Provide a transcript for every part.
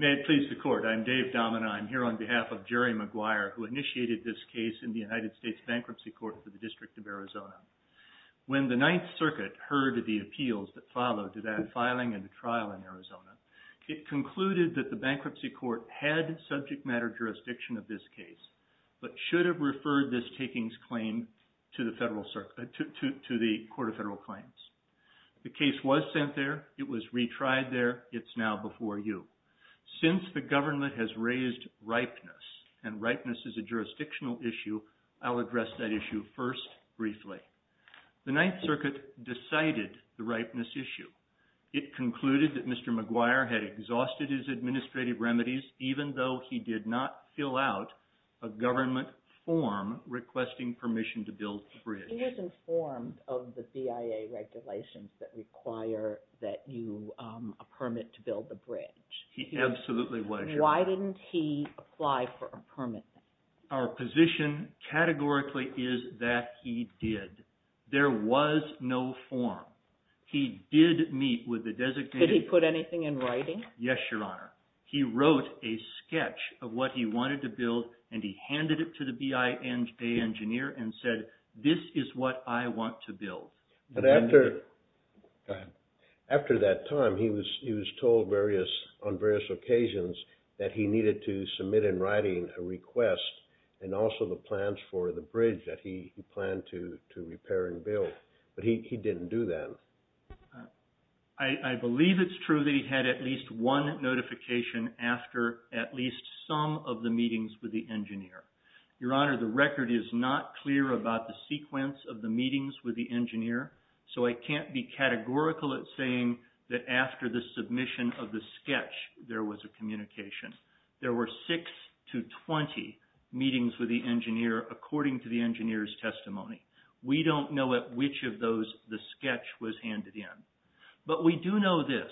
May it please the court, I'm Dave Domina. I'm here on behalf of Jerry McGuire who initiated this case in the United States Bankruptcy Court for the District of Arizona. When the Ninth Circuit heard the appeals that followed to that filing and the trial in Arizona, it concluded that the Bankruptcy Court had subject matter jurisdiction of this case but should have referred this takings claim to the Court of Federal Claims. The case was sent there. It was retried there. It's now before you. Since the Government has raised ripeness and ripeness is a jurisdictional issue, I'll address that issue first briefly. The Ninth Circuit decided the ripeness issue. It concluded that Mr. McGuire had exhausted his administrative remedies even though he did not fill out a Government form requesting permission to build the bridge. He was informed of the BIA regulations that require that you, a permit to build the bridge. He absolutely was. Why didn't he apply for a permit? Our position categorically is that he did. There was no form. He did meet with the designated... Could he put anything in writing? Yes, Your Honor. He wrote a sketch of what he wanted to build and he handed it to the BIA engineer and said, this is what I want to build. After that time, he was told on various occasions that he needed to submit in writing a request and also the plans for the bridge that he planned to repair and build. But he didn't do that. I believe it's true that he had at least one notification after at least some of the meetings with the engineer. Your Honor, the record is not clear about the sequence of the meetings with the engineer, so I can't be categorical at saying that after the submission of the sketch there was a communication. There were six to twenty meetings with the engineer according to the engineer's testimony. We don't know at which of those the sketch was handed in. But we do know this...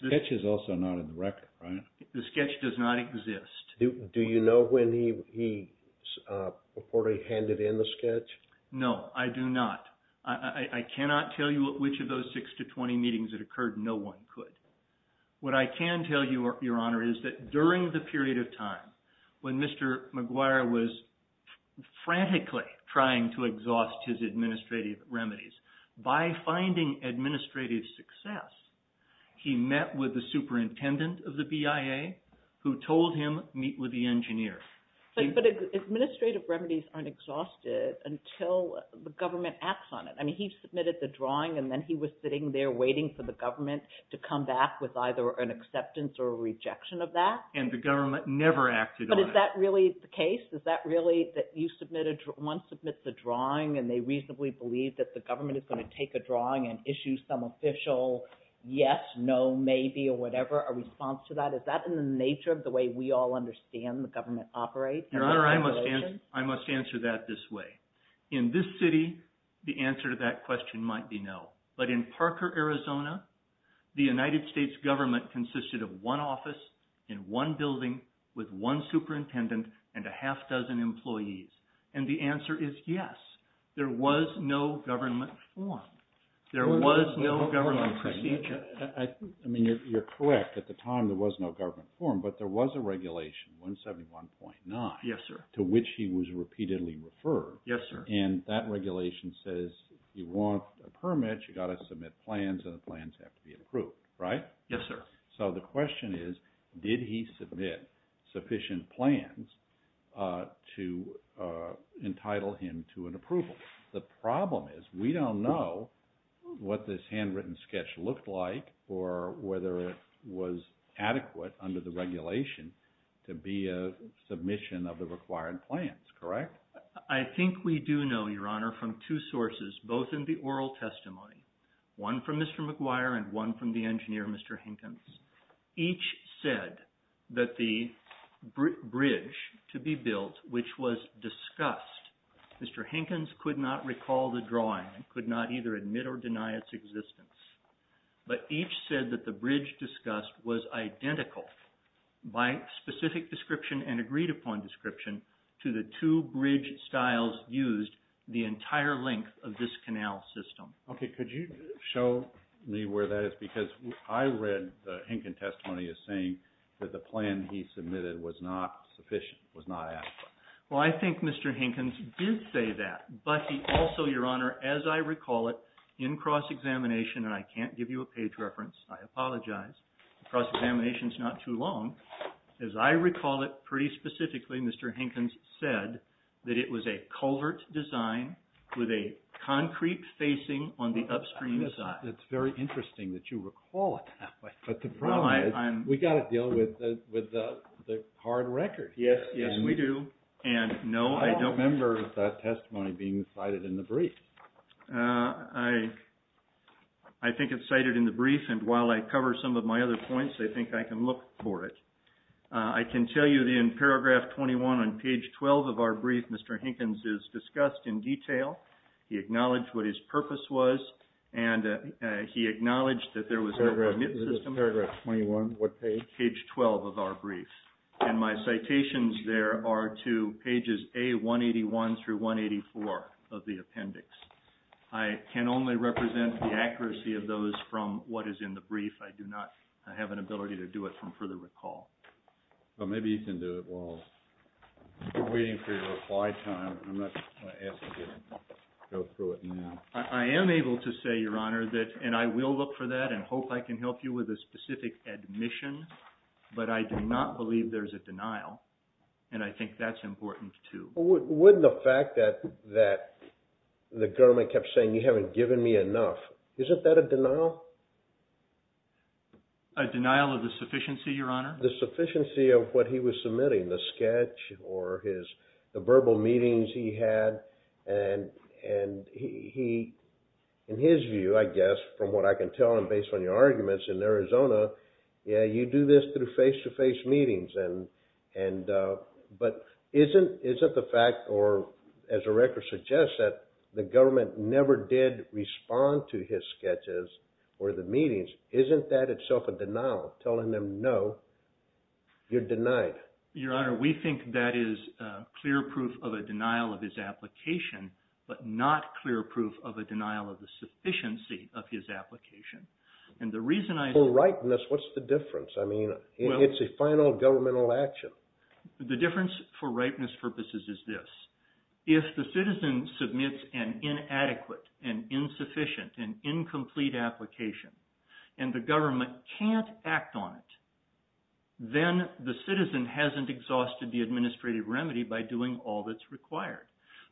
The sketch is also not in the record, right? The sketch does not exist. Do you know when he reportedly handed in the sketch? No, I do not. I cannot tell you at which of those six to twenty meetings it occurred. No one could. What I can tell you, Your Honor, is that during the period of time when Mr. McGuire was frantically trying to exhaust his administrative remedies, by finding administrative success, he met with the superintendent of the BIA who told him, meet with the engineer. But administrative remedies aren't exhausted until the government acts on it. I mean, he submitted the drawing and then he was sitting there waiting for the government to come back with either an acceptance or a rejection of that. And the government never acted on it. But is that really the case? Is that really that you submit a... one submits a drawing and they reasonably believe that the government is going to take a drawing and issue some official yes, no, maybe, or whatever, a response to that? Is that in the nature of the way we all understand the government operates? Your Honor, I must answer that this way. In this city, the answer to that question might be no. But in Parker, Arizona, the United States government consisted of one office in one building with one superintendent and a half dozen employees. And the answer is yes. There was no government form. There was no government procedure. I mean, you're correct. At the time, there was no government form. But there was a regulation, 171.9, to which he was repeatedly referred. And that regulation says, you want a permit, you've got to submit plans, and the plans have to be approved, right? Yes, sir. So the question is, did he submit sufficient plans to entitle him to an approval? The problem is, we don't know what this handwritten sketch looked like or whether it was adequate under the regulation to be a submission of the required plans, correct? I think we do know, Your Honor, from two sources, both in the oral testimony, one from Mr. McGuire and one from the engineer, Mr. Hinkins, each said that the bridge to be built, which was discussed, Mr. Hinkins could not recall the drawing and could not either admit or deny its existence. But each said that the bridge discussed was identical by specific description and agreed upon description to the two bridge styles used the entire length of this canal system. Okay, could you show me where that is? Because I read the Hinkin testimony as saying that the plan he submitted was not sufficient, was not adequate. Well, I think Mr. Hinkins did say that, but he also, Your Honor, as I recall it, in cross-examination, and I can't give you a page reference, I apologize, cross-examination's not too long, as I recall it, pretty specifically, Mr. Hinkins said that it was a culvert design with a concrete facing on the upstream side. It's very interesting that you recall it that way, but the problem is we've got to deal with the hard record. Yes, yes, we do. I don't remember that testimony being cited in the brief. I think it's cited in the brief, and while I cover some of my other points, I think I can look for it. I can tell you that in paragraph 21 on page 12 of our brief, Mr. Hinkins is discussed in detail. He acknowledged what his purpose was, and he acknowledged that there was no permit system. Paragraph 21, what page? Page 12 of our brief, and my citations there are to pages A181 through 184 of the appendix. I can only represent the accuracy of those from what is in the brief. I do not have an ability to do it from further recall. Well, maybe you can do it while we're waiting for your reply time. I'm not going to ask you to go through it now. I am able to say, Your Honor, and I will look for that and hope I can help you with a specific admission, but I do not believe there's a denial, and I think that's important, too. Wouldn't the fact that the government kept saying, you haven't given me enough, isn't that a denial? A denial of the sufficiency, Your Honor? The sufficiency of what he was submitting, the sketch or the verbal meetings he had, and in his view, I guess, from what I can tell, and based on your arguments in Arizona, yeah, you do this through face-to-face meetings, but isn't the fact, or as the record suggests, that the government never did respond to his sketches or the meetings, isn't that itself a denial, telling them, no, you're denied? Your Honor, we think that is clear proof of a denial of his application, but not clear proof of a denial of the sufficiency of his application. For ripeness, what's the difference? I mean, it's a final governmental action. The difference for ripeness purposes is this. If the citizen submits an inadequate, an insufficient, an incomplete application, and the government can't act on it, then the citizen hasn't exhausted the administrative remedy by doing all that's required.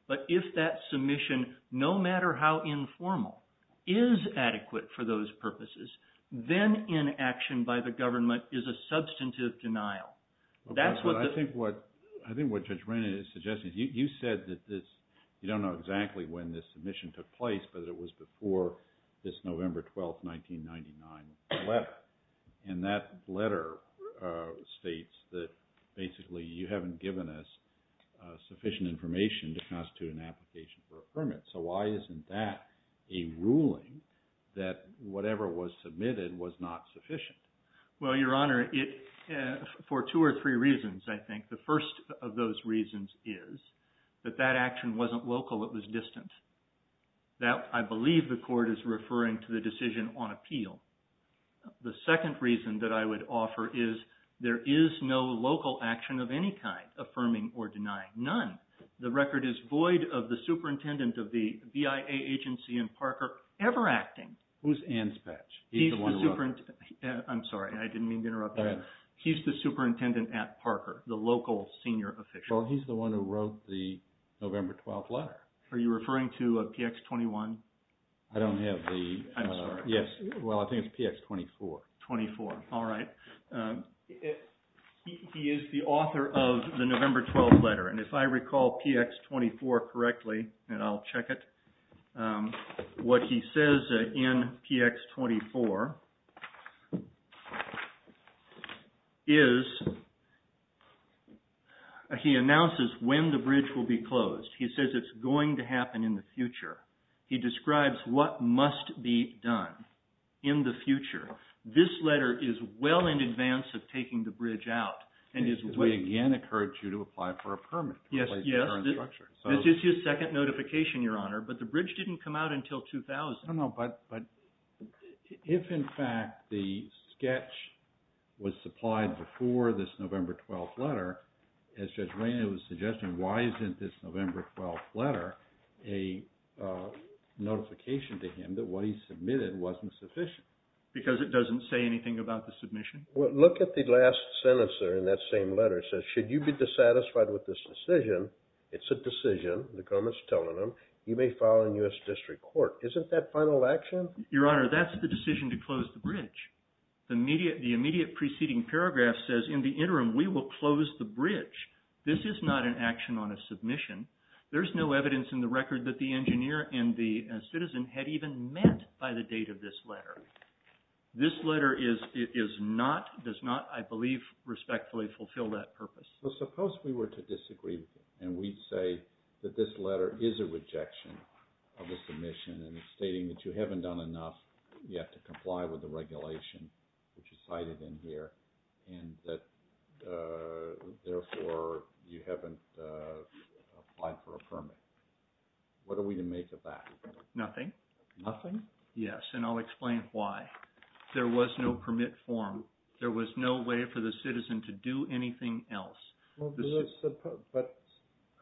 But if that submission, no matter how informal, is adequate for those purposes, then inaction by the government is a substantive denial. I think what Judge Rennan is suggesting is you said that this, you don't know exactly when this submission took place, but it was before this November 12, 1999 letter. And that letter states that basically you haven't given us sufficient information to constitute an application for a permit. So why isn't that a ruling that whatever was submitted was not sufficient? Well, Your Honor, for two or three reasons, I think. The first of those reasons is that that action wasn't local, it was distant. I believe the court is referring to the decision on appeal. The second reason that I would offer is there is no local action of any kind affirming or denying, none. The record is void of the superintendent of the BIA agency in Parker ever acting. Who's Ann Spetsch? He's the one who wrote it. I'm sorry, I didn't mean to interrupt you. Go ahead. He's the superintendent at Parker, the local senior official. Well, he's the one who wrote the November 12 letter. Are you referring to PX 21? I don't have the... I'm sorry. Yes, well, I think it's PX 24. 24, all right. He is the author of the November 12 letter. And if I recall PX 24 correctly, and I'll check it, what he says in PX 24 is, he announces when the bridge will be closed. He says it's going to happen in the future. He describes what must be done in the future. This letter is well in advance of taking the bridge out. We again encourage you to apply for a permit. Yes, this is his second notification, Your Honor, but the bridge didn't come out until 2000. I don't know, but if in fact the sketch was supplied before this November 12 letter, as Judge Rayner was suggesting, why isn't this November 12 letter a notification to him that what he submitted wasn't sufficient? Because it doesn't say anything about the submission? Well, look at the last sentence there in that same letter. It says, should you be dissatisfied with this decision, it's a decision, the government's telling them, you may file in U.S. District Court. Isn't that final action? Your Honor, that's the decision to close the bridge. The immediate preceding paragraph says, in the interim, we will close the bridge. This is not an action on a submission. There's no evidence in the record that the engineer and the citizen had even met by the date of this letter. This letter does not, I believe, respectfully fulfill that purpose. So suppose we were to disagree, and we'd say that this letter is a rejection of the submission, and it's stating that you haven't done enough yet to comply with the regulation, which is cited in here, and that, therefore, you haven't applied for a permit. What are we to make of that? Nothing. Nothing? Yes, and I'll explain why. There was no permit form. There was no way for the citizen to do anything else. But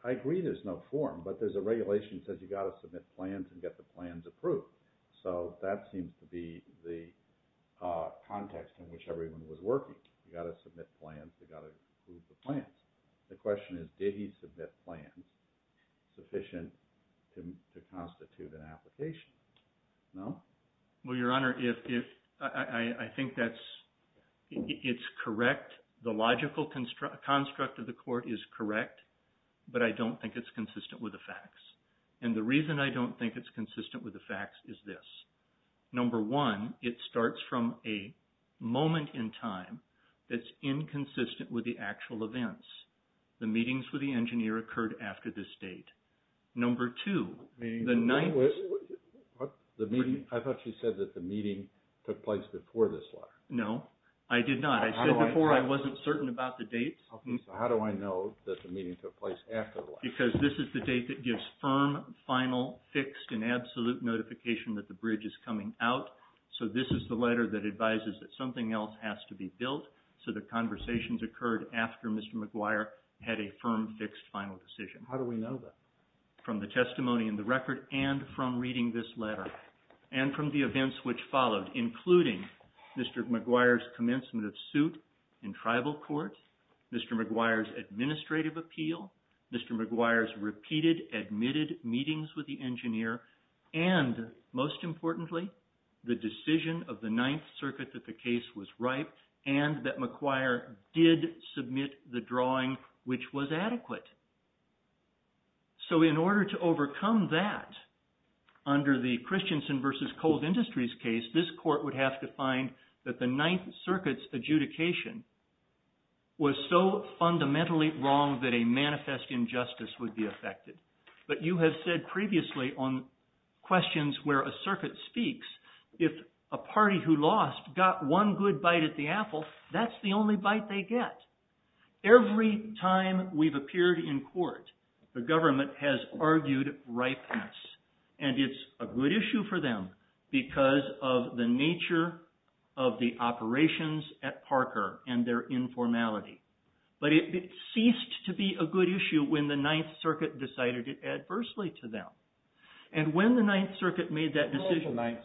I agree there's no form, but there's a regulation that says you've got to submit plans and get the plans approved. So that seems to be the context in which everyone was working. You've got to submit plans. You've got to approve the plans. The question is, did he submit plans sufficient to constitute an application? No? Well, Your Honor, I think it's correct. The logical construct of the court is correct, but I don't think it's consistent with the facts. And the reason I don't think it's consistent with the facts is this. Number one, it starts from a moment in time that's inconsistent with the actual events. The meetings with the engineer occurred after this date. Number two, the night. I thought you said that the meeting took place before this letter. No, I did not. I said before I wasn't certain about the dates. So how do I know that the meeting took place after the letter? Because this is the date that gives firm, final, fixed, and absolute notification that the bridge is coming out. So this is the letter that advises that something else has to be built so that conversations occurred after Mr. McGuire had a firm, fixed, final decision. How do we know that? From the testimony in the record and from reading this letter and from the events which followed, including Mr. McGuire's commencement of suit in tribal court, Mr. McGuire's administrative appeal, Mr. McGuire's repeated admitted meetings with the engineer, and most importantly, the decision of the Ninth Circuit that the case was ripe and that McGuire did submit the drawing, which was adequate. So in order to overcome that under the Christensen v. Cold Industries case, this court would have to find that the Ninth Circuit's adjudication was so fundamentally wrong that a manifest injustice would be affected. But you have said previously on questions where a circuit speaks, if a party who lost got one good bite at the apple, that's the only bite they get. Every time we've appeared in court, the government has argued ripeness. And it's a good issue for them because of the nature of the operations at Parker and their informality. But it ceased to be a good issue when the Ninth Circuit decided it adversely to them. And when the Ninth Circuit made that decision... This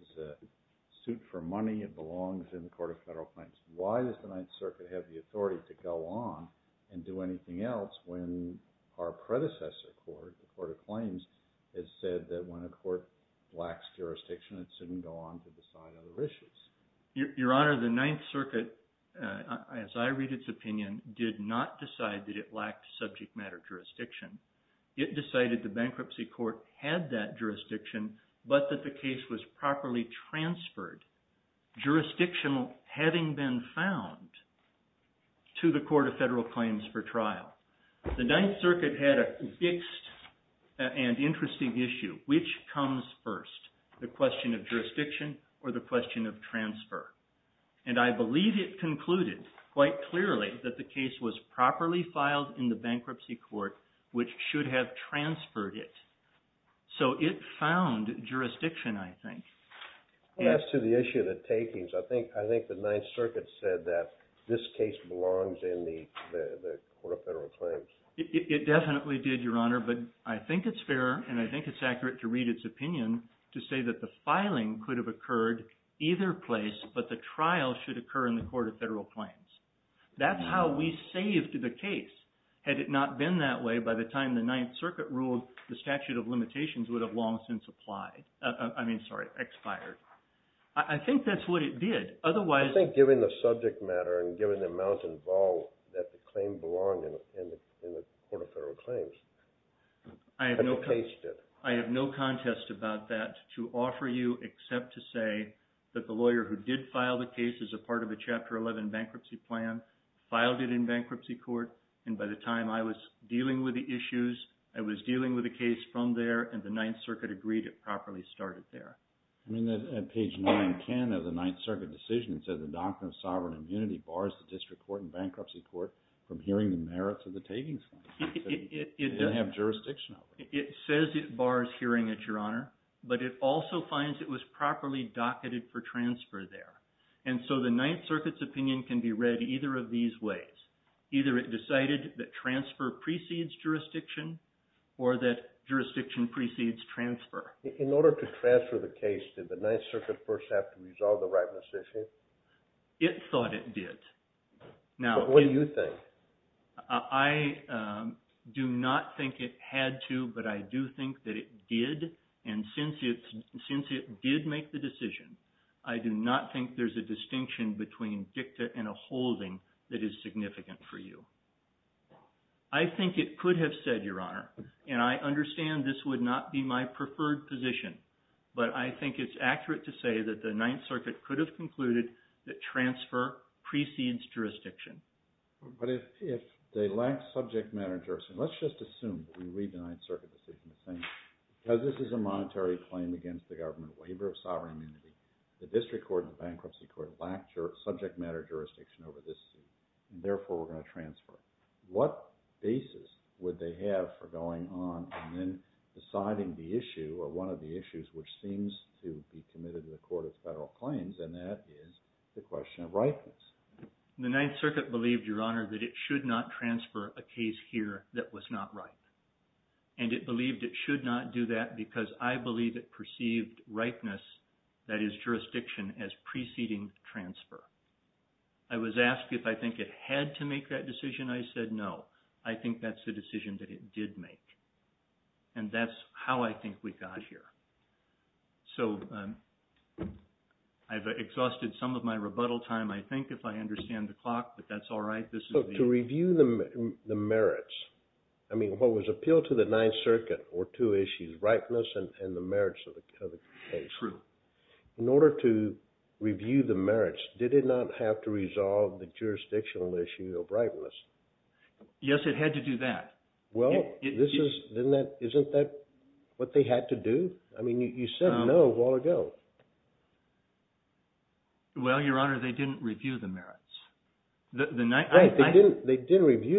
is a suit for money. It belongs in the Court of Federal Claims. Why does the Ninth Circuit have the authority to go on and do anything else when our predecessor court, the Court of Claims, has said that when a court lacks jurisdiction, it shouldn't go on to decide other issues? Your Honor, the Ninth Circuit, as I read its opinion, did not decide that it lacked subject matter jurisdiction. It decided the bankruptcy court had that jurisdiction, but that the case was properly transferred, jurisdictional having been found, to the Court of Federal Claims for trial. The Ninth Circuit had a fixed and interesting issue. Which comes first, the question of jurisdiction or the question of transfer? And I believe it concluded quite clearly that the case was properly filed in the bankruptcy court which should have transferred it. So it found jurisdiction, I think. As to the issue of the takings, I think the Ninth Circuit said that this case belongs in the Court of Federal Claims. It definitely did, Your Honor, but I think it's fair and I think it's accurate to read its opinion to say that the filing could have occurred either place, but the trial should occur in the Court of Federal Claims. That's how we saved the case. Had it not been that way, by the time the Ninth Circuit ruled, the statute of limitations would have long since applied. I mean, sorry, expired. I think that's what it did. I think given the subject matter and given the amount involved that the claim belonged in the Court of Federal Claims, I have no contest about that to offer you except to say that the lawyer who did file the case which is a part of a Chapter 11 bankruptcy plan, filed it in bankruptcy court, and by the time I was dealing with the issues, I was dealing with the case from there, and the Ninth Circuit agreed it properly started there. I mean, at page 910 of the Ninth Circuit decision, it says, the doctrine of sovereign immunity bars the district court and bankruptcy court from hearing the merits of the takings claim. It didn't have jurisdiction over it. It says it bars hearing it, Your Honor, but it also finds it was properly docketed for transfer there. And so the Ninth Circuit's opinion can be read either of these ways. Either it decided that transfer precedes jurisdiction or that jurisdiction precedes transfer. In order to transfer the case, did the Ninth Circuit first have to resolve the rightness issue? It thought it did. What do you think? I do not think it had to, but I do think that it did, and since it did make the decision, I do not think there's a distinction between dicta and a holding that is significant for you. I think it could have said, Your Honor, and I understand this would not be my preferred position, but I think it's accurate to say that the Ninth Circuit could have concluded that transfer precedes jurisdiction. But if they lack subject matter jurisdiction, let's just assume that we read the Ninth Circuit decision the same way. Because this is a monetary claim against the government, waiver of sovereign immunity, the District Court and the Bankruptcy Court lack subject matter jurisdiction over this suit, and therefore we're going to transfer it. What basis would they have for going on and then deciding the issue or one of the issues which seems to be committed to the Court of Federal Claims, and that is the question of rightness. The Ninth Circuit believed, Your Honor, that it should not transfer a case here that was not right, and it believed it should not do that because I believe it perceived rightness, that is jurisdiction, as preceding transfer. I was asked if I think it had to make that decision. I said no. I think that's the decision that it did make, and that's how I think we got here. So I've exhausted some of my rebuttal time, I think, if I understand the clock, but that's all right. To review the merits, I mean what was appealed to the Ninth Circuit were two issues, rightness and the merits of the case. True. In order to review the merits, did it not have to resolve the jurisdictional issue of rightness? Yes, it had to do that. Well, isn't that what they had to do? I mean you said no a while ago. Right, they did review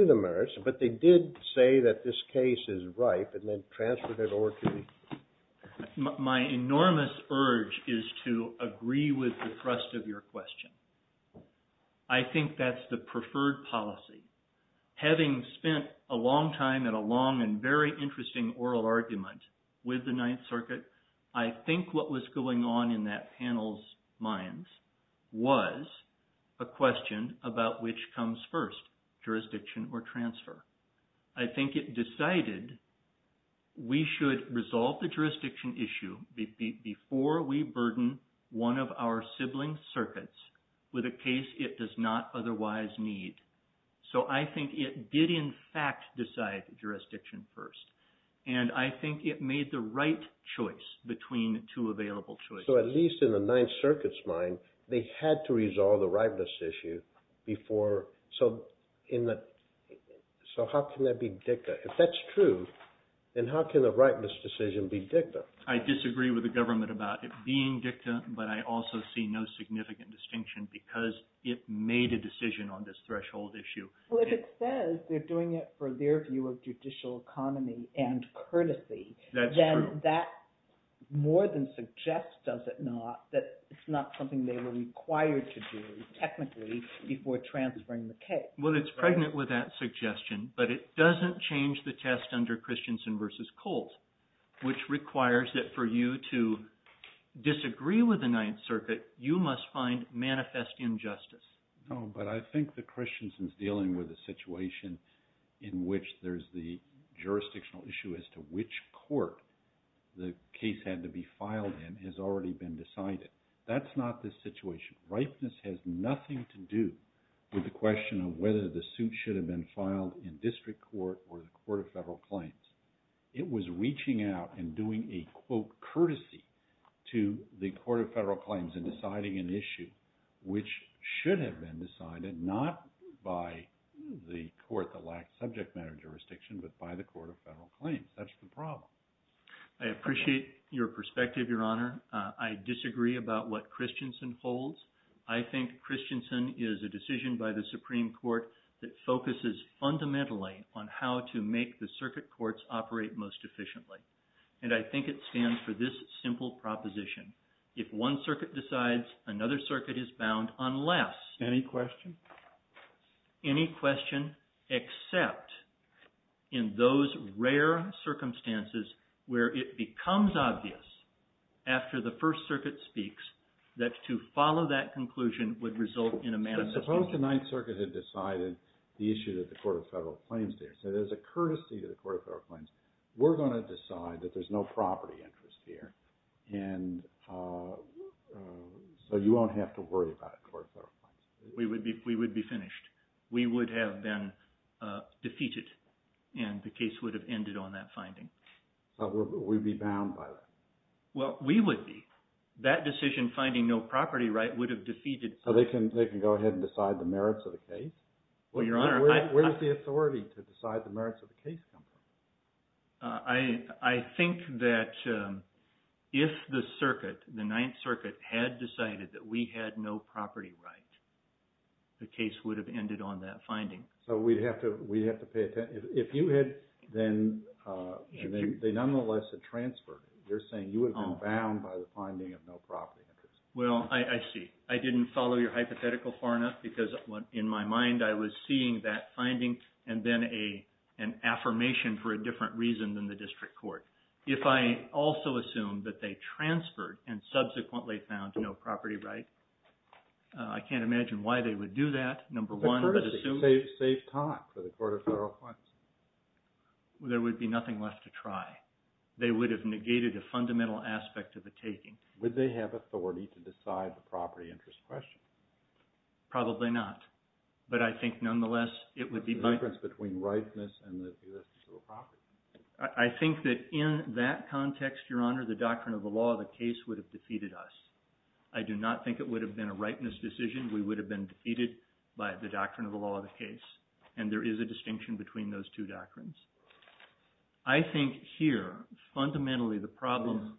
the merits, but they did say that this case is ripe and then transferred it over to me. My enormous urge is to agree with the thrust of your question. I think that's the preferred policy. Having spent a long time and a long and very interesting oral argument with the Ninth Circuit, I think what was going on in that panel's minds was a question about which comes first, jurisdiction or transfer. I think it decided we should resolve the jurisdiction issue before we burden one of our sibling circuits with a case it does not otherwise need. So I think it did in fact decide jurisdiction first. And I think it made the right choice between two available choices. So at least in the Ninth Circuit's mind, they had to resolve the rightness issue before, so how can that be dicta? If that's true, then how can the rightness decision be dicta? I disagree with the government about it being dicta, but I also see no significant distinction because it made a decision on this threshold issue. Well, if it says they're doing it for their view of judicial economy and courtesy, then that more than suggests, does it not, that it's not something they were required to do technically before transferring the case. Well, it's pregnant with that suggestion, but it doesn't change the test under Christensen versus Colt, which requires that for you to disagree with the Ninth Circuit, you must find manifest injustice. No, but I think that Christensen's dealing with a situation in which there's the jurisdictional issue as to which court the case had to be filed in has already been decided. That's not the situation. Rightness has nothing to do with the question of whether the suit should have been filed in district court or the Court of Federal Claims. It was reaching out and doing a, quote, courtesy to the Court of Federal Claims in deciding an issue which should have been decided not by the court that lacked subject matter jurisdiction, but by the Court of Federal Claims. That's the problem. I appreciate your perspective, Your Honor. I disagree about what Christensen holds. I think Christensen is a decision by the Supreme Court that focuses fundamentally on how to make the circuit courts operate most efficiently. And I think it stands for this simple proposition. If one circuit decides, another circuit is bound unless... Any question? Any question except in those rare circumstances where it becomes obvious after the First Circuit speaks that to follow that conclusion would result in a manifest injustice. Suppose the Ninth Circuit had decided the issue that the Court of Federal Claims did. So there's a courtesy to the Court of Federal Claims. We're going to decide that there's no property interest here. And so you won't have to worry about it in the Court of Federal Claims. We would be finished. We would have been defeated, and the case would have ended on that finding. So we'd be bound by that. Well, we would be. That decision finding no property right would have defeated... So they can go ahead and decide the merits of the case? Well, Your Honor, I... Where does the authority to decide the merits of the case come from? I think that if the circuit, the Ninth Circuit, had decided that we had no property right, the case would have ended on that finding. So we'd have to pay attention. If you had then – they nonetheless had transferred. You're saying you would have been bound by the finding of no property interest. Well, I see. I didn't follow your hypothetical far enough because in my mind I was seeing that finding and then an affirmation for a different reason than the district court. If I also assumed that they transferred and subsequently found no property right, I can't imagine why they would do that. Number one, I would assume... It's a courtesy. Safe talk for the Court of Federal Claims. There would be nothing left to try. They would have negated a fundamental aspect of the taking. Would they have authority to decide the property interest question? Probably not. But I think nonetheless it would be... The difference between rightness and the jurisdiction of the property. I think that in that context, Your Honor, the doctrine of the law of the case would have defeated us. I do not think it would have been a rightness decision. We would have been defeated by the doctrine of the law of the case. And there is a distinction between those two doctrines. I think here fundamentally the problem...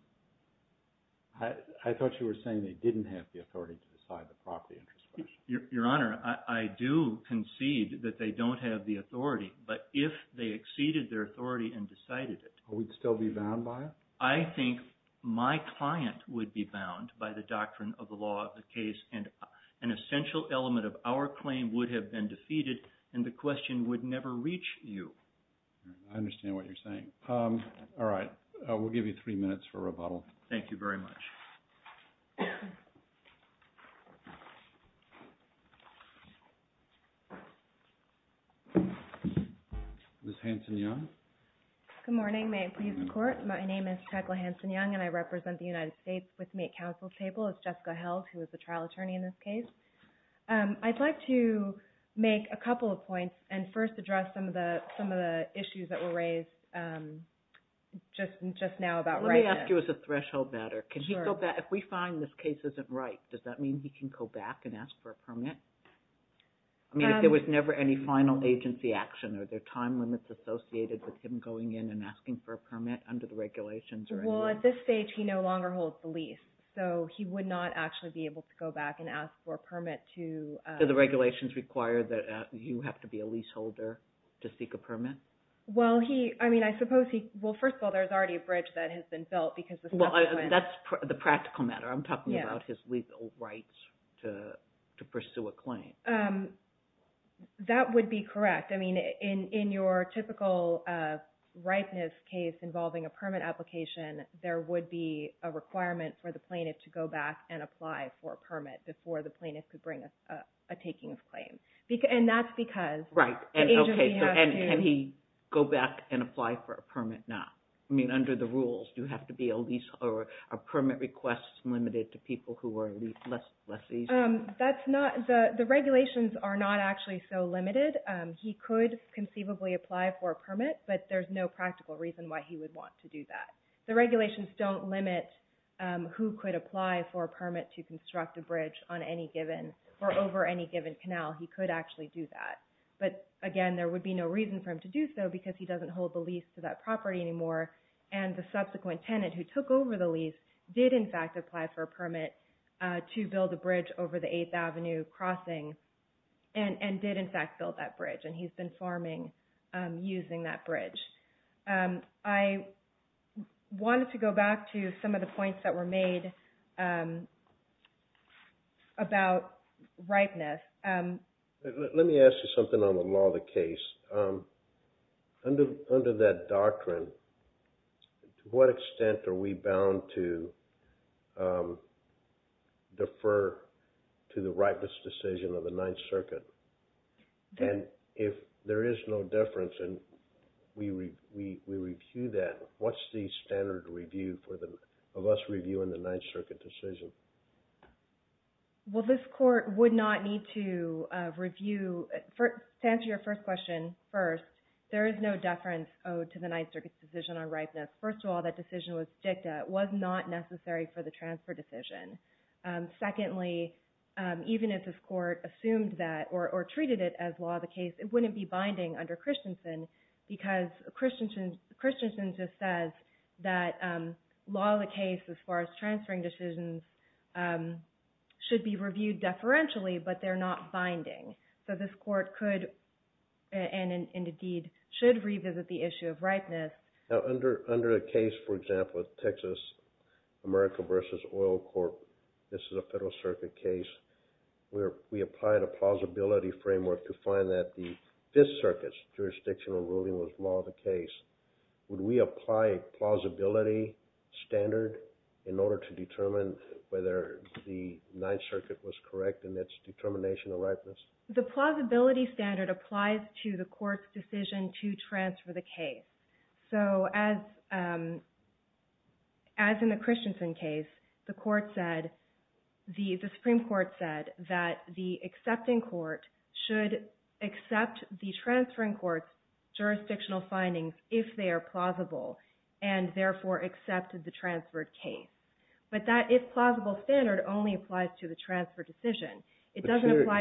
I thought you were saying they didn't have the authority to decide the property interest question. Your Honor, I do concede that they don't have the authority. But if they exceeded their authority and decided it... We'd still be bound by it? I think my client would be bound by the doctrine of the law of the case. An essential element of our claim would have been defeated, and the question would never reach you. I understand what you're saying. All right. We'll give you three minutes for rebuttal. Thank you very much. Ms. Hanson-Young? Good morning. May it please the Court? My name is Jacqueline Hanson-Young, and I represent the United States. With me at counsel's table is Jessica Held, who is the trial attorney in this case. I'd like to make a couple of points and first address some of the issues that were raised just now about rightness. Let me ask you as a threshold matter. If we find this case isn't right, does that mean he can go back and ask for a permit? I mean, if there was never any final agency action, are there time limits associated with him going in and asking for a permit under the regulations? Well, at this stage, he no longer holds the lease, so he would not actually be able to go back and ask for a permit to... Do the regulations require that you have to be a leaseholder to seek a permit? Well, he – I mean, I suppose he – well, first of all, there's already a bridge that has been built because... Well, that's the practical matter. I'm talking about his legal rights to pursue a claim. That would be correct. I mean, in your typical rightness case involving a permit application, there would be a requirement for the plaintiff to go back and apply for a permit before the plaintiff could bring a taking of claim. And that's because the agency has to... Are permit requests limited to people who are less easy? That's not – the regulations are not actually so limited. He could conceivably apply for a permit, but there's no practical reason why he would want to do that. The regulations don't limit who could apply for a permit to construct a bridge on any given – or over any given canal. He could actually do that. But again, there would be no reason for him to do so because he doesn't hold the lease to that property anymore, and the subsequent tenant who took over the lease did, in fact, apply for a permit to build a bridge over the 8th Avenue crossing and did, in fact, build that bridge, and he's been farming using that bridge. I wanted to go back to some of the points that were made about rightness. Let me ask you something on the law of the case. Under that doctrine, to what extent are we bound to defer to the rightness decision of the Ninth Circuit? And if there is no deference and we review that, what's the standard review of us reviewing the Ninth Circuit decision? Well, this Court would not need to review – to answer your first question, first, there is no deference owed to the Ninth Circuit's decision on rightness. First of all, that decision was dicta. It was not necessary for the transfer decision. Secondly, even if this Court assumed that or treated it as law of the case, it wouldn't be binding under Christensen because Christensen just says that law of the case as far as transferring decisions should be reviewed deferentially, but they're not binding. So this Court could and indeed should revisit the issue of rightness. Now, under a case, for example, Texas America v. Oil Corp., this is a Federal Circuit case, where we applied a plausibility framework to find that the Fifth Circuit's jurisdictional ruling was law of the case. Would we apply a plausibility standard in order to determine whether the Ninth Circuit was correct in its determination of rightness? The plausibility standard applies to the Court's decision to transfer the case. So as in the Christensen case, the Supreme Court said that the accepting court should accept the transferring court's jurisdictional findings if they are plausible, and therefore accepted the transferred case. But that if plausible standard only applies to the transfer decision. But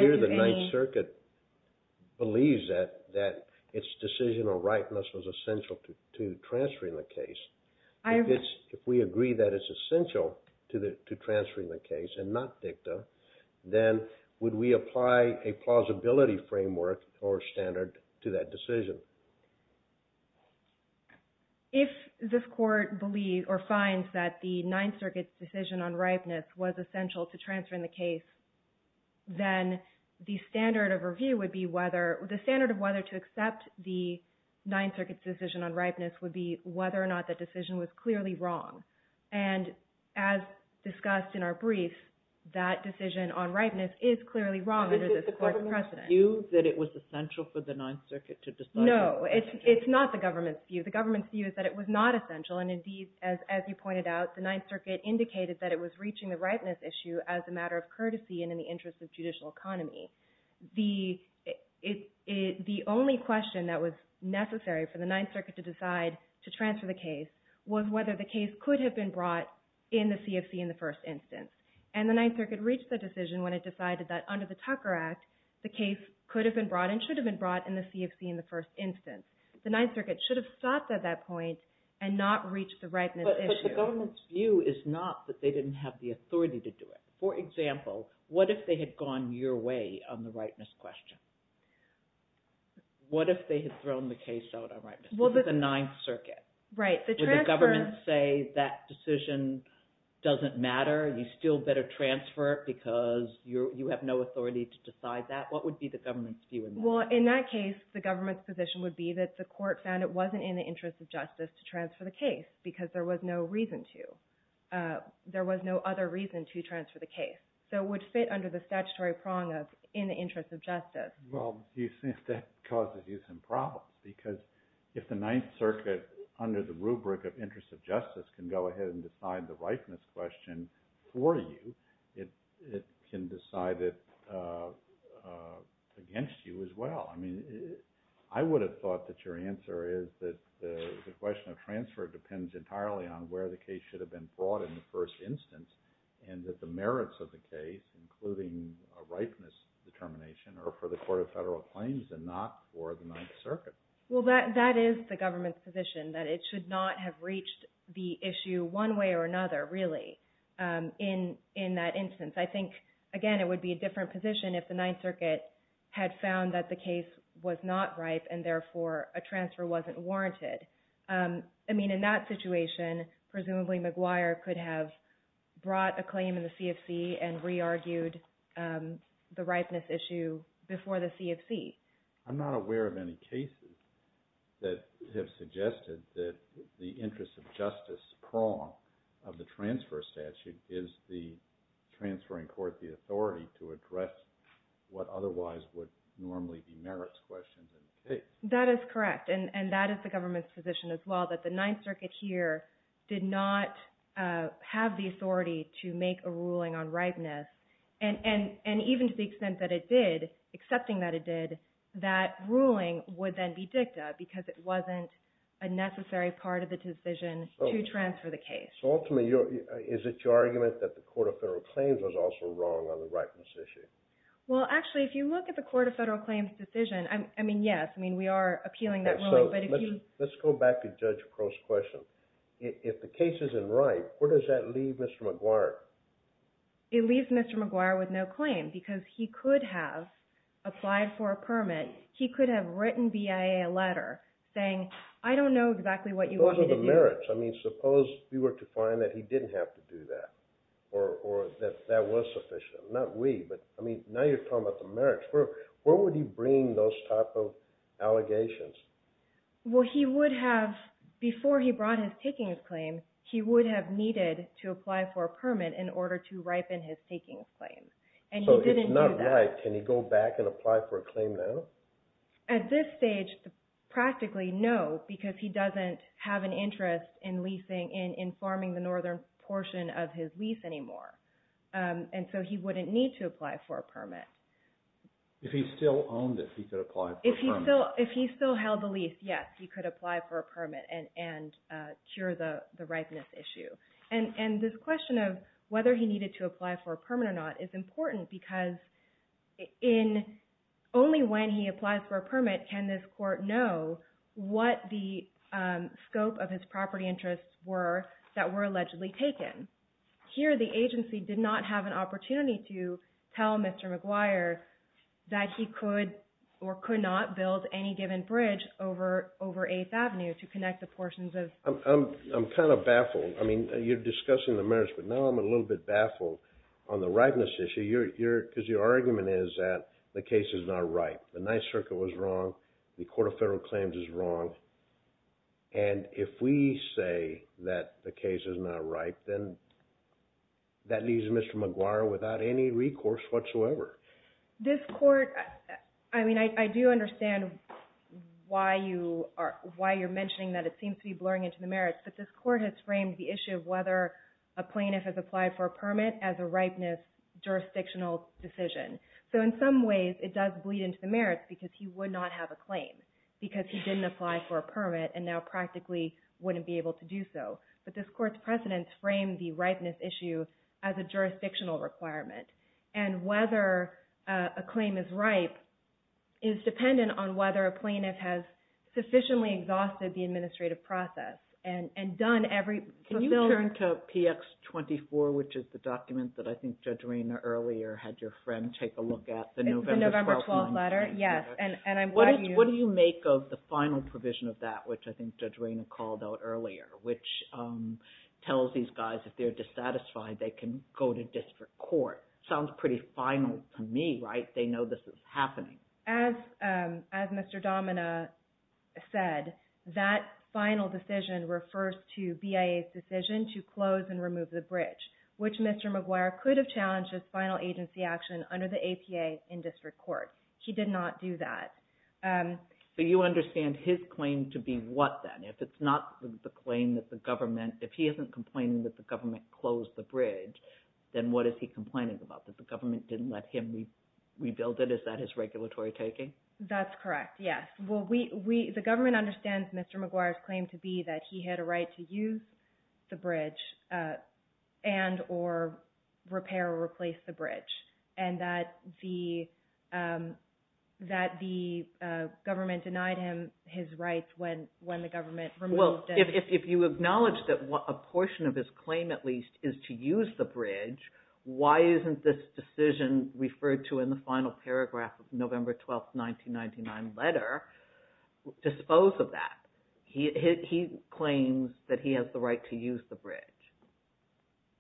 here the Ninth Circuit believes that its decision on rightness was essential to transferring the case. If we agree that it's essential to transferring the case and not dicta, then would we apply a plausibility framework or standard to that decision? If this Court finds that the Ninth Circuit's decision on rightness was essential to transferring the case, then the standard of whether to accept the Ninth Circuit's decision on rightness would be whether or not the decision was clearly wrong. And as discussed in our brief, that decision on rightness is clearly wrong under this Court's precedent. Is the government's view that it was essential for the Ninth Circuit to decide? No, it's not the government's view. The government's view is that it was not essential, and indeed, as you pointed out, the Ninth Circuit indicated that it was reaching the rightness issue as a matter of courtesy and in the interest of judicial economy. The only question that was necessary for the Ninth Circuit to decide to transfer the case was whether the case could have been brought in the CFC in the first instance. And the Ninth Circuit reached that decision when it decided that under the Tucker Act, the case could have been brought and should have been brought in the CFC in the first instance. The Ninth Circuit should have stopped at that point and not reached the rightness issue. But the government's view is not that they didn't have the authority to do it. For example, what if they had gone your way on the rightness question? What if they had thrown the case out on rightness? This is the Ninth Circuit. Would the government say that decision doesn't matter? You still better transfer it because you have no authority to decide that? What would be the government's view on that? Well, in that case, the government's position would be that the court found it wasn't in the interest of justice to transfer the case because there was no reason to. There was no other reason to transfer the case. So it would fit under the statutory prong of in the interest of justice. Well, you see, that causes you some problems because if the Ninth Circuit, under the rubric of interest of justice, can go ahead and decide the rightness question for you, it can decide it against you as well. I mean, I would have thought that your answer is that the question of transfer depends entirely on where the case should have been brought in the first instance and that the merits of the case, including a rightness determination, are for the Court of Federal Claims and not for the Ninth Circuit. Well, that is the government's position, that it should not have reached the issue one way or another, really, in that instance. I think, again, it would be a different position if the Ninth Circuit had found that the case was not ripe and therefore a transfer wasn't warranted. I mean, in that situation, presumably McGuire could have brought a claim in the CFC and re-argued the ripeness issue before the CFC. I'm not aware of any cases that have suggested that the interest of justice prong of the transfer statute is transferring court the authority to address what otherwise would normally be merits questions in the case. That is correct, and that is the government's position as well, that the Ninth Circuit here did not have the authority to make a ruling on ripeness, and even to the extent that it did, accepting that it did, that ruling would then be dicta because it wasn't a necessary part of the decision to transfer the case. So ultimately, is it your argument that the Court of Federal Claims was also wrong on the ripeness issue? Well, actually, if you look at the Court of Federal Claims' decision, I mean, yes, we are appealing that ruling. Let's go back to Judge Crow's question. If the case isn't ripe, where does that leave Mr. McGuire? It leaves Mr. McGuire with no claim, because he could have applied for a permit. He could have written BIA a letter saying, I don't know exactly what you want me to do. I mean, suppose we were to find that he didn't have to do that, or that that was sufficient. Not we, but I mean, now you're talking about the merits. Where would he bring those type of allegations? Well, he would have, before he brought his takings claim, he would have needed to apply for a permit in order to ripen his takings claim. And he didn't do that. So if it's not ripe, can he go back and apply for a claim now? At this stage, practically no, because he doesn't have an interest in leasing, in farming the northern portion of his lease anymore. And so he wouldn't need to apply for a permit. If he still held the lease, yes, he could apply for a permit and cure the ripeness issue. And this question of whether he needed to apply for a permit or not is important, because only when he applies for a permit can this court know what the scope of his property interests were that were allegedly taken. Here, the agency did not have an opportunity to tell Mr. McGuire that he could or could not build any given bridge over 8th Avenue to connect the portions of... I'm kind of baffled. I mean, you're discussing the merits, but now I'm a little bit baffled on the ripeness issue, because your argument is that the case is not ripe. The Ninth Circuit was wrong. And if we say that the case is not ripe, then that leaves Mr. McGuire without any recourse whatsoever. This court, I mean, I do understand why you're mentioning that it seems to be blurring into the merits, but this court has framed the issue of whether a plaintiff has applied for a permit as a ripeness jurisdictional decision. So in some ways, it does bleed into the merits, because he would not have a claim, because he didn't apply for a permit and now practically wouldn't be able to do so. But this court's precedents frame the ripeness issue as a jurisdictional requirement. And whether a claim is ripe is dependent on whether a plaintiff has sufficiently exhausted the administrative process and done every... Can you turn to PX24, which is the document that I think Judge Reyna earlier had your friend take a look at, the November 12th letter? It's the November 12th letter, yes, and I'm glad you... What do you make of the final provision of that, which I think Judge Reyna called out earlier, which tells these guys if they're dissatisfied, they can go to district court? Sounds pretty final to me, right? They know this is happening. As Mr. Domina said, that final decision refers to BIA's decision to close and remove the bridge, which Mr. McGuire could have challenged as final agency action under the APA in district court. He did not do that. So you understand his claim to be what, then? If it's not the claim that the government... If he isn't complaining that the government closed the bridge, then what is he complaining about, that the government didn't let him rebuild it? Is that his regulatory taking? That's correct, yes. The government understands Mr. McGuire's claim to be that he had a right to use the bridge and or repair or replace the bridge, and that the government denied him his rights when the government removed it. If you acknowledge that a portion of his claim, at least, is to use the bridge, why isn't this decision referred to in the final paragraph of the November 12, 1999 letter dispose of that? He claims that he has the right to use the bridge,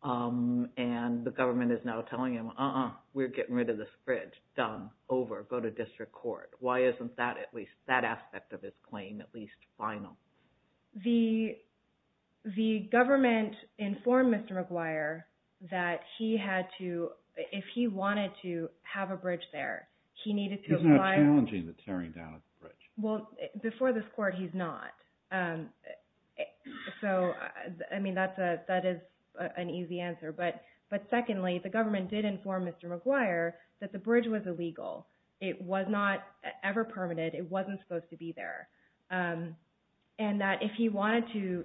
and the government is now telling him, uh-uh, we're getting rid of this bridge. Done. Over. Go to district court. Why isn't that aspect of his claim at least final? The government informed Mr. McGuire that he had to... If he wanted to have a bridge there, he needed to apply... He's not challenging the tearing down of the bridge. Well, before this court, he's not. So, I mean, that is an easy answer. But secondly, the government did inform Mr. McGuire that the bridge was illegal. It was not ever permitted. It wasn't supposed to be there. And that if he wanted to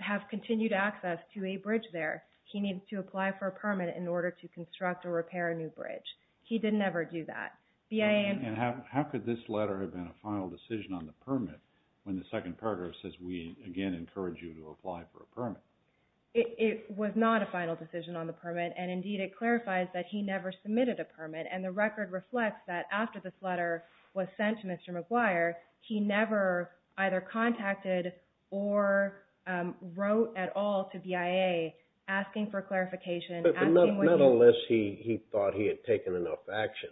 have continued access to a bridge there, he needed to apply for a permit in order to construct or repair a new bridge. He didn't ever do that. And how could this letter have been a final decision on the permit when the second paragraph says, we again encourage you to apply for a permit? It was not a final decision on the permit, and indeed, it clarifies that he never submitted a permit, and the record reflects that after this letter was sent to Mr. McGuire, he never either contacted or wrote at all to BIA asking for clarification. But the medalist, he thought he had taken enough action.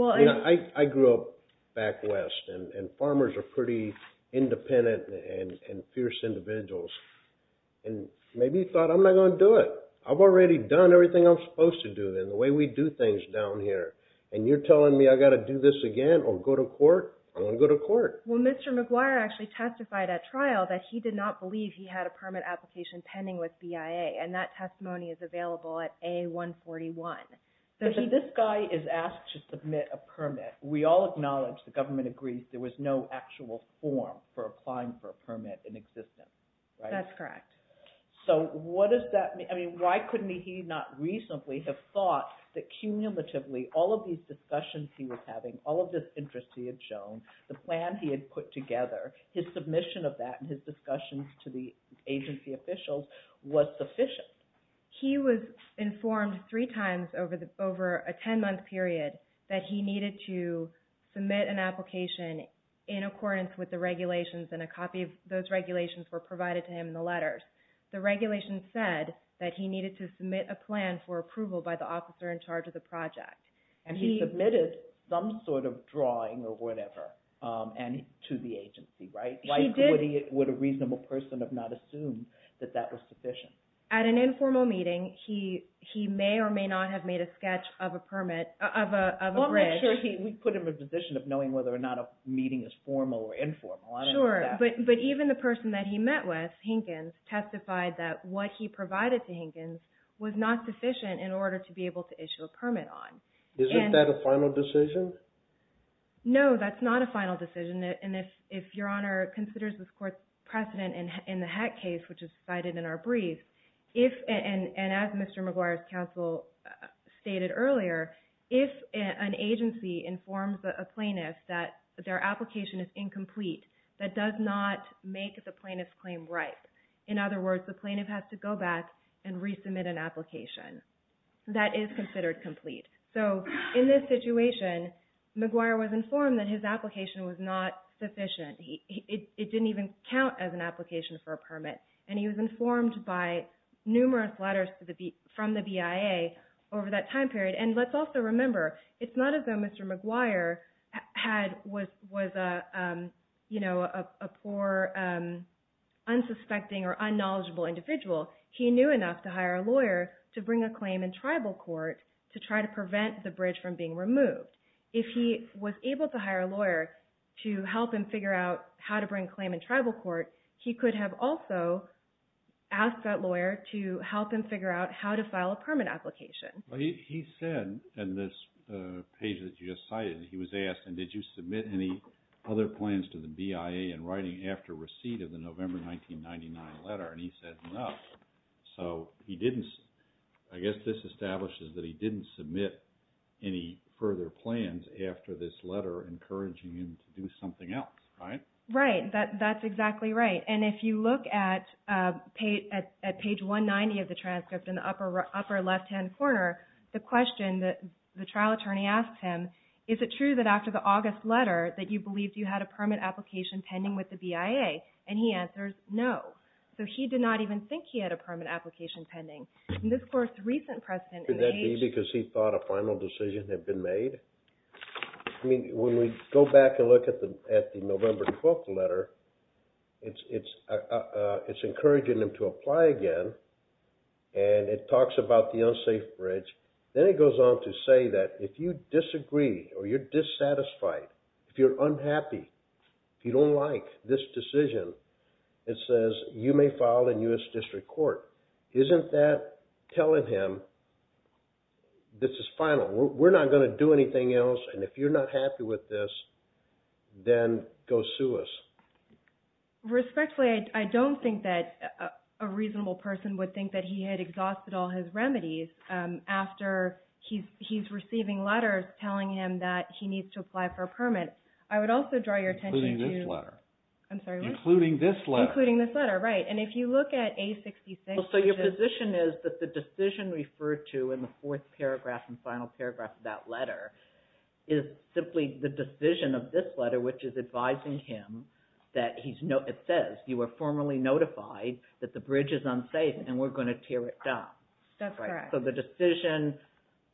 I grew up back west, and farmers are pretty independent and fierce individuals, and maybe he thought, I'm not going to do it. I've already done everything I'm supposed to do, and the way we do things down here, and you're telling me I've got to do this again or go to court? I'm going to go to court. Well, Mr. McGuire actually testified at trial that he did not believe he had a permit application pending with BIA, and that testimony is available at A141. So if this guy is asked to submit a permit, we all acknowledge the government agrees there was no actual form for applying for a permit in existence, right? That's correct. So what does that mean? I mean, why couldn't he not recently have thought that cumulatively all of these discussions he was having, all of this interest he had shown, the plan he had put together, his submission of that and his discussions to the agency officials was sufficient? He was informed three times over a 10-month period that he needed to submit an application in accordance with the regulations, and a copy of those regulations were provided to him in the letters. The regulations said that he needed to submit a plan for approval by the officer in charge of the project. And he submitted some sort of drawing or whatever to the agency, right? Why would a reasonable person have not assumed that that was sufficient? At an informal meeting, he may or may not have made a sketch of a permit, of a bridge. We put him in a position of knowing whether or not a meeting is formal or informal. Sure. But even the person that he met with, Hinkins, testified that what he provided to Hinkins was not sufficient in order to be able to issue a permit on. Isn't that a final decision? No, that's not a final decision. And if Your Honor considers this court's precedent in the Heck case, which is cited in our brief, and as Mr. McGuire's counsel stated earlier, if an agency informs a plaintiff that their application is incomplete, that does not make the plaintiff's claim ripe. In other words, the plaintiff has to go back and resubmit an application. That is considered complete. So in this situation, McGuire was informed that his application was not sufficient. It didn't even count as an application for a permit. And he was informed by numerous letters from the BIA over that time period. And let's also remember, it's not as though Mr. McGuire was a poor, unsuspecting, or unknowledgeable individual. He knew enough to hire a lawyer to bring a claim in tribal court to try to prevent the bridge from being removed. If he was able to hire a lawyer to help him figure out how to bring a claim in tribal court, he could have also asked that lawyer to help him figure out how to file a permit application. He said in this page that you just cited, he was asked, and did you submit any other plans to the BIA in writing after receipt of the November 1999 letter? And he said no. So he didn't, I guess this establishes that he didn't submit any further plans after this letter encouraging him to do something else, right? Right, that's exactly right. And if you look at page 190 of the transcript in the upper left-hand corner, the question that the trial attorney asks him, is it true that after the August letter that you believed you had a permit application pending with the BIA? And he answers no. So he did not even think he had a permit application pending. In this course, recent precedent in the age… Could that be because he thought a final decision had been made? I mean, when we go back and look at the November 12th letter, it's encouraging him to apply again, and it talks about the unsafe bridge. Then it goes on to say that if you disagree or you're dissatisfied, if you're unhappy, if you don't like this decision, it says you may file in U.S. District Court. Isn't that telling him this is final? We're not going to do anything else, and if you're not happy with this, then go sue us. Respectfully, I don't think that a reasonable person would think that he had exhausted all his remedies after he's receiving letters telling him that he needs to apply for a permit. I would also draw your attention to… Including this letter. I'm sorry, what? Including this letter. Including this letter, right. And if you look at A66… So your position is that the decision referred to in the fourth paragraph and final paragraph of that letter is simply the decision of this letter, which is advising him that it says you are formally notified that the bridge is unsafe and we're going to tear it down. That's correct. So the decision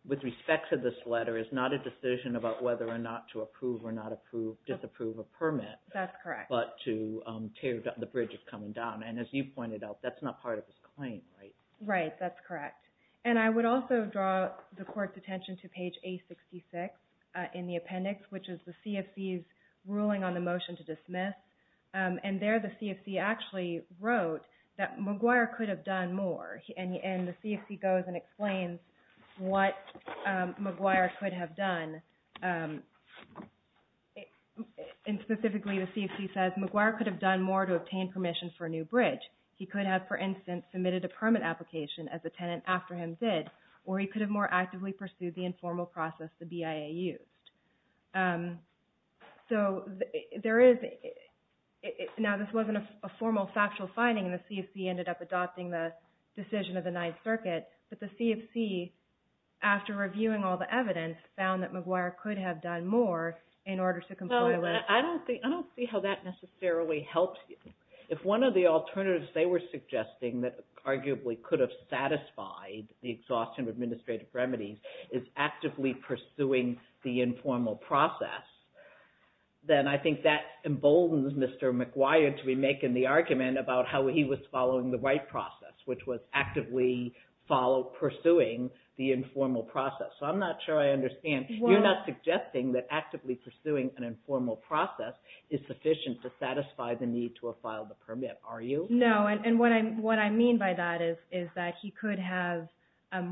with respect to this letter is not a decision about whether or not to approve or not approve, disapprove a permit… That's correct. …but to tear the bridge that's coming down. And as you pointed out, that's not part of his claim, right? Right, that's correct. And I would also draw the Court's attention to page A66 in the appendix, which is the CFC's ruling on the motion to dismiss. And there the CFC actually wrote that McGuire could have done more, and the CFC goes and explains what McGuire could have done. And specifically the CFC says, McGuire could have done more to obtain permission for a new bridge. He could have, for instance, submitted a permit application, as the tenant after him did, or he could have more actively pursued the informal process the BIA used. So there is… Now, this wasn't a formal, factual finding, and the CFC ended up adopting the decision of the Ninth Circuit, but the CFC, after reviewing all the evidence, found that McGuire could have done more in order to comply with… Well, I don't see how that necessarily helps you. If one of the alternatives they were suggesting that arguably could have satisfied the exhaustion of administrative remedies is actively pursuing the informal process, then I think that emboldens Mr. McGuire to be making the argument about how he was following the right process, which was actively pursuing the informal process. So I'm not sure I understand. You're not suggesting that actively pursuing an informal process is sufficient to satisfy the need to have filed the permit, are you? No, and what I mean by that is that he could have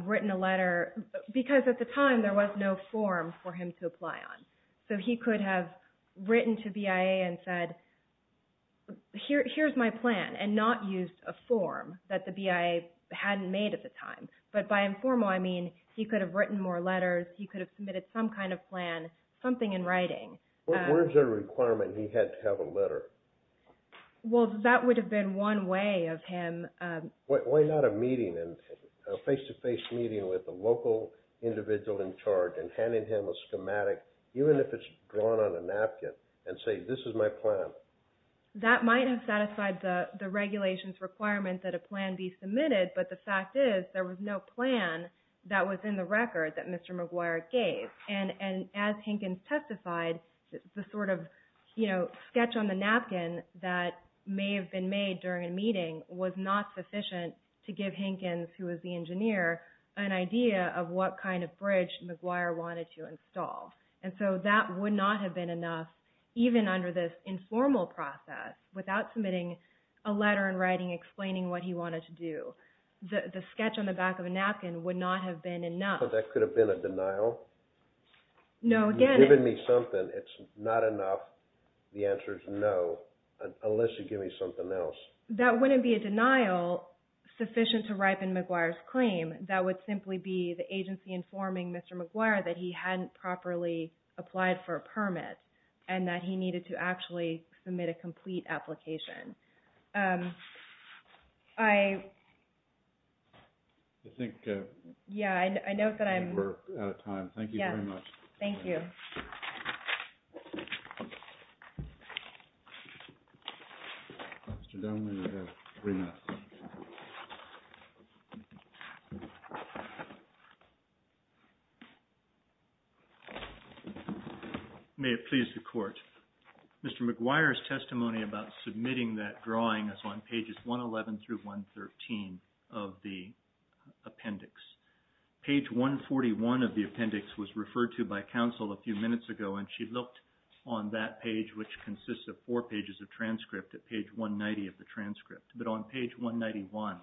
written a letter, because at the time there was no form for him to apply on. So he could have written to BIA and said, here's my plan, and not used a form that the BIA hadn't made at the time. But by informal I mean he could have written more letters, he could have submitted some kind of plan, something in writing. Where is there a requirement he had to have a letter? Well, that would have been one way of him… Why not a meeting, a face-to-face meeting with a local individual in charge and handing him a schematic, even if it's drawn on a napkin, and say, this is my plan? That might have satisfied the regulations requirement that a plan be submitted, but the fact is there was no plan that was in the record that Mr. McGuire gave. And as Hinkins testified, the sort of sketch on the napkin that may have been made during a meeting was not sufficient to give Hinkins, who was the engineer, an idea of what kind of bridge McGuire wanted to install. And so that would not have been enough, even under this informal process, without submitting a letter in writing explaining what he wanted to do. The sketch on the back of a napkin would not have been enough. So that could have been a denial? No, again… You've given me something, it's not enough. The answer is no, unless you give me something else. That wouldn't be a denial sufficient to ripen McGuire's claim. That would simply be the agency informing Mr. McGuire that he hadn't properly applied for a permit and that he needed to actually submit a complete application. I… I think… Yeah, I know that I'm… We're out of time. Thank you very much. Thank you. Thank you. Mr. Dunlap, you have three minutes. May it please the Court. Mr. McGuire's testimony about submitting that drawing is on pages 111 through 113 of the appendix. Page 141 of the appendix was referred to by counsel a few minutes ago and she looked on that page, which consists of four pages of transcript, at page 190 of the transcript. But on page 191,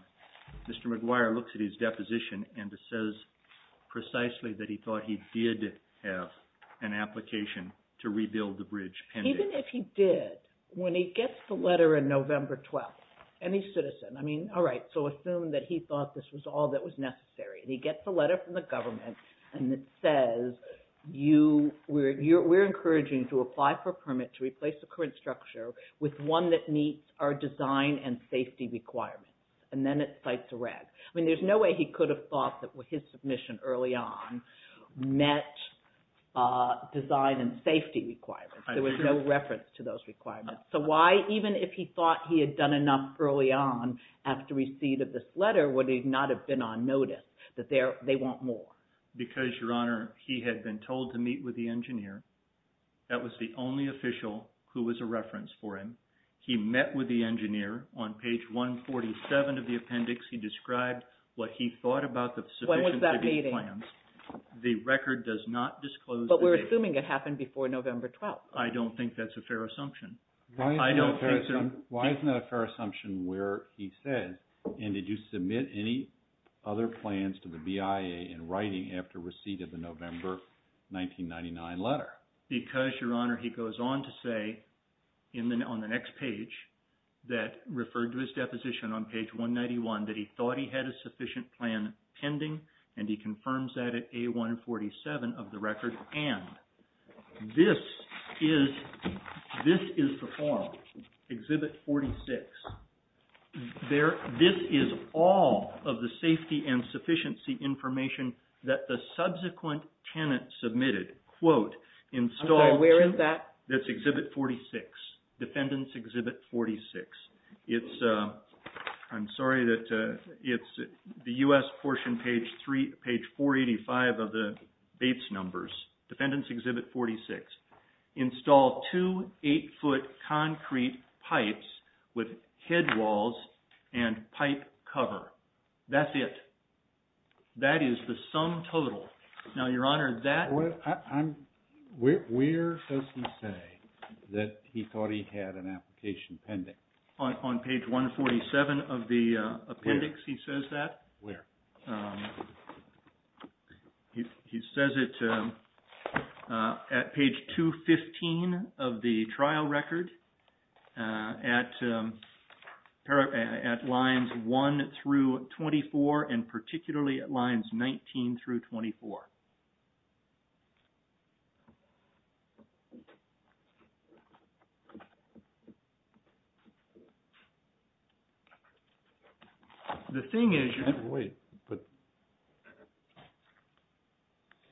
Mr. McGuire looks at his deposition and it says precisely that he thought he did have an application to rebuild the bridge pending. Even if he did, when he gets the letter in November 12th, and he's citizen, I mean, all right, so assume that he thought this was all that was necessary. And he gets a letter from the government and it says, we're encouraging you to apply for a permit to replace the current structure with one that meets our design and safety requirements. And then it cites a rag. I mean, there's no way he could have thought that his submission early on met design and safety requirements. There was no reference to those requirements. So why, even if he thought he had done enough early on after receipt of this letter, would he not have been on notice that they want more? Because, Your Honor, he had been told to meet with the engineer. That was the only official who was a reference for him. He met with the engineer. On page 147 of the appendix, he described what he thought about the submission to these plans. When was that meeting? The record does not disclose the date. But we're assuming it happened before November 12th. I don't think that's a fair assumption. Why isn't that a fair assumption where he says, and did you submit any other plans to the BIA in writing after receipt of the November 1999 letter? Because, Your Honor, he goes on to say, on the next page, that referred to his deposition on page 191, that he thought he had a sufficient plan pending, and he confirms that at A147 of the record. And this is the form, Exhibit 46. This is all of the safety and sufficiency information that the subsequent tenant submitted, quote, installed. Where is that? That's Exhibit 46, Defendant's Exhibit 46. I'm sorry, it's the U.S. portion, page 485 of the Bates numbers, Defendant's Exhibit 46. Install two 8-foot concrete pipes with headwalls and pipe cover. That's it. That is the sum total. Now, Your Honor, that... Where does he say that he thought he had an application pending? On page 147 of the appendix, he says that. Where? He says it at page 215 of the trial record, at lines 1 through 24, and particularly at lines 19 through 24. The thing is... Wait, but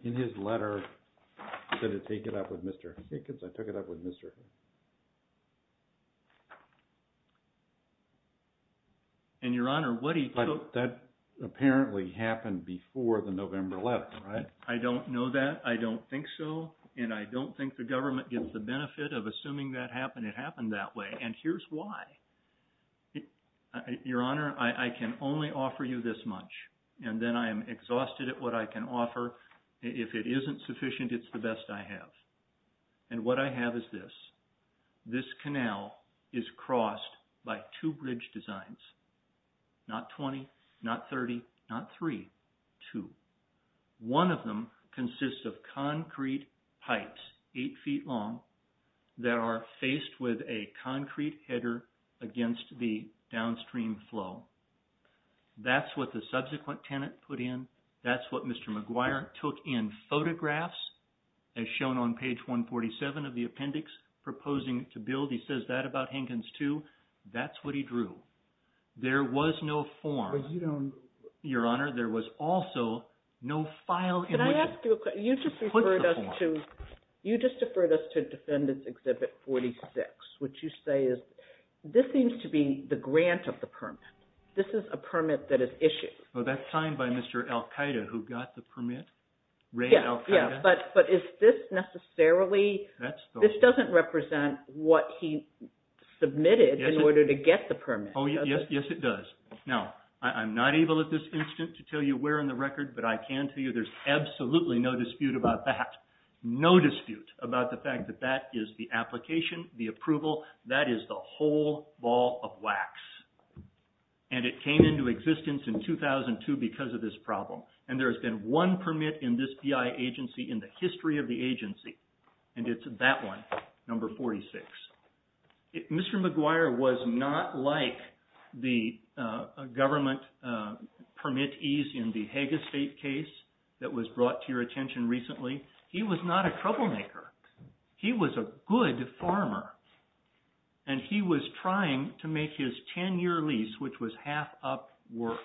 in his letter, did it take it up with Mr. Hickens? I took it up with Mr. Hickens. And, Your Honor, what he... But that apparently happened before the November 11th, right? I don't know that. I don't think so. And I don't think the government gets the benefit of assuming that happened. It happened that way. And here's why. Your Honor, I can only offer you this much. And then I am exhausted at what I can offer. If it isn't sufficient, it's the best I have. And what I have is this. This canal is crossed by two bridge designs. Not 20, not 30, not three, two. One of them consists of concrete pipes, eight feet long, that are faced with a concrete header against the downstream flow. That's what the subsequent tenant put in. That's what Mr. McGuire took in. Photographs, as shown on page 147 of the appendix, proposing to build. He says that about Hickens, too. That's what he drew. There was no form. But you don't... Your Honor, there was also no file in which... Can I ask you a question? You just referred us to... What's the form? You just referred us to Defendant's Exhibit 46. What you say is, this seems to be the grant of the permit. This is a permit that is issued. That's signed by Mr. Al-Qaeda, who got the permit. Ray Al-Qaeda. But is this necessarily... This doesn't represent what he submitted in order to get the permit. Yes, it does. Now, I'm not able at this instant to tell you where in the record, but I can tell you there's absolutely no dispute about that. No dispute about the fact that that is the application, the approval. That is the whole ball of wax. And it came into existence in 2002 because of this problem. And there has been one permit in this BI agency in the history of the agency. And it's that one, number 46. Mr. McGuire was not like the government permittees in the Hague Estate case that was brought to your attention recently. He was not a troublemaker. He was a good farmer. And he was trying to make his 10-year lease, which was half up, work.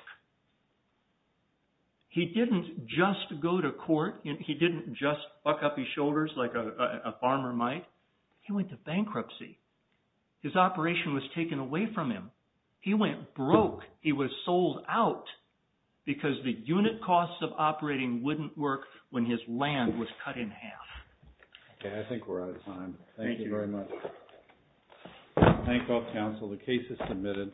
He didn't just go to court. He didn't just buck up his shoulders like a farmer might. He went to bankruptcy. His operation was taken away from him. He went broke. He was sold out because the unit costs of operating wouldn't work when his land was cut in half. Okay, I think we're out of time. Thank you very much. Thank you all, counsel. The case is submitted.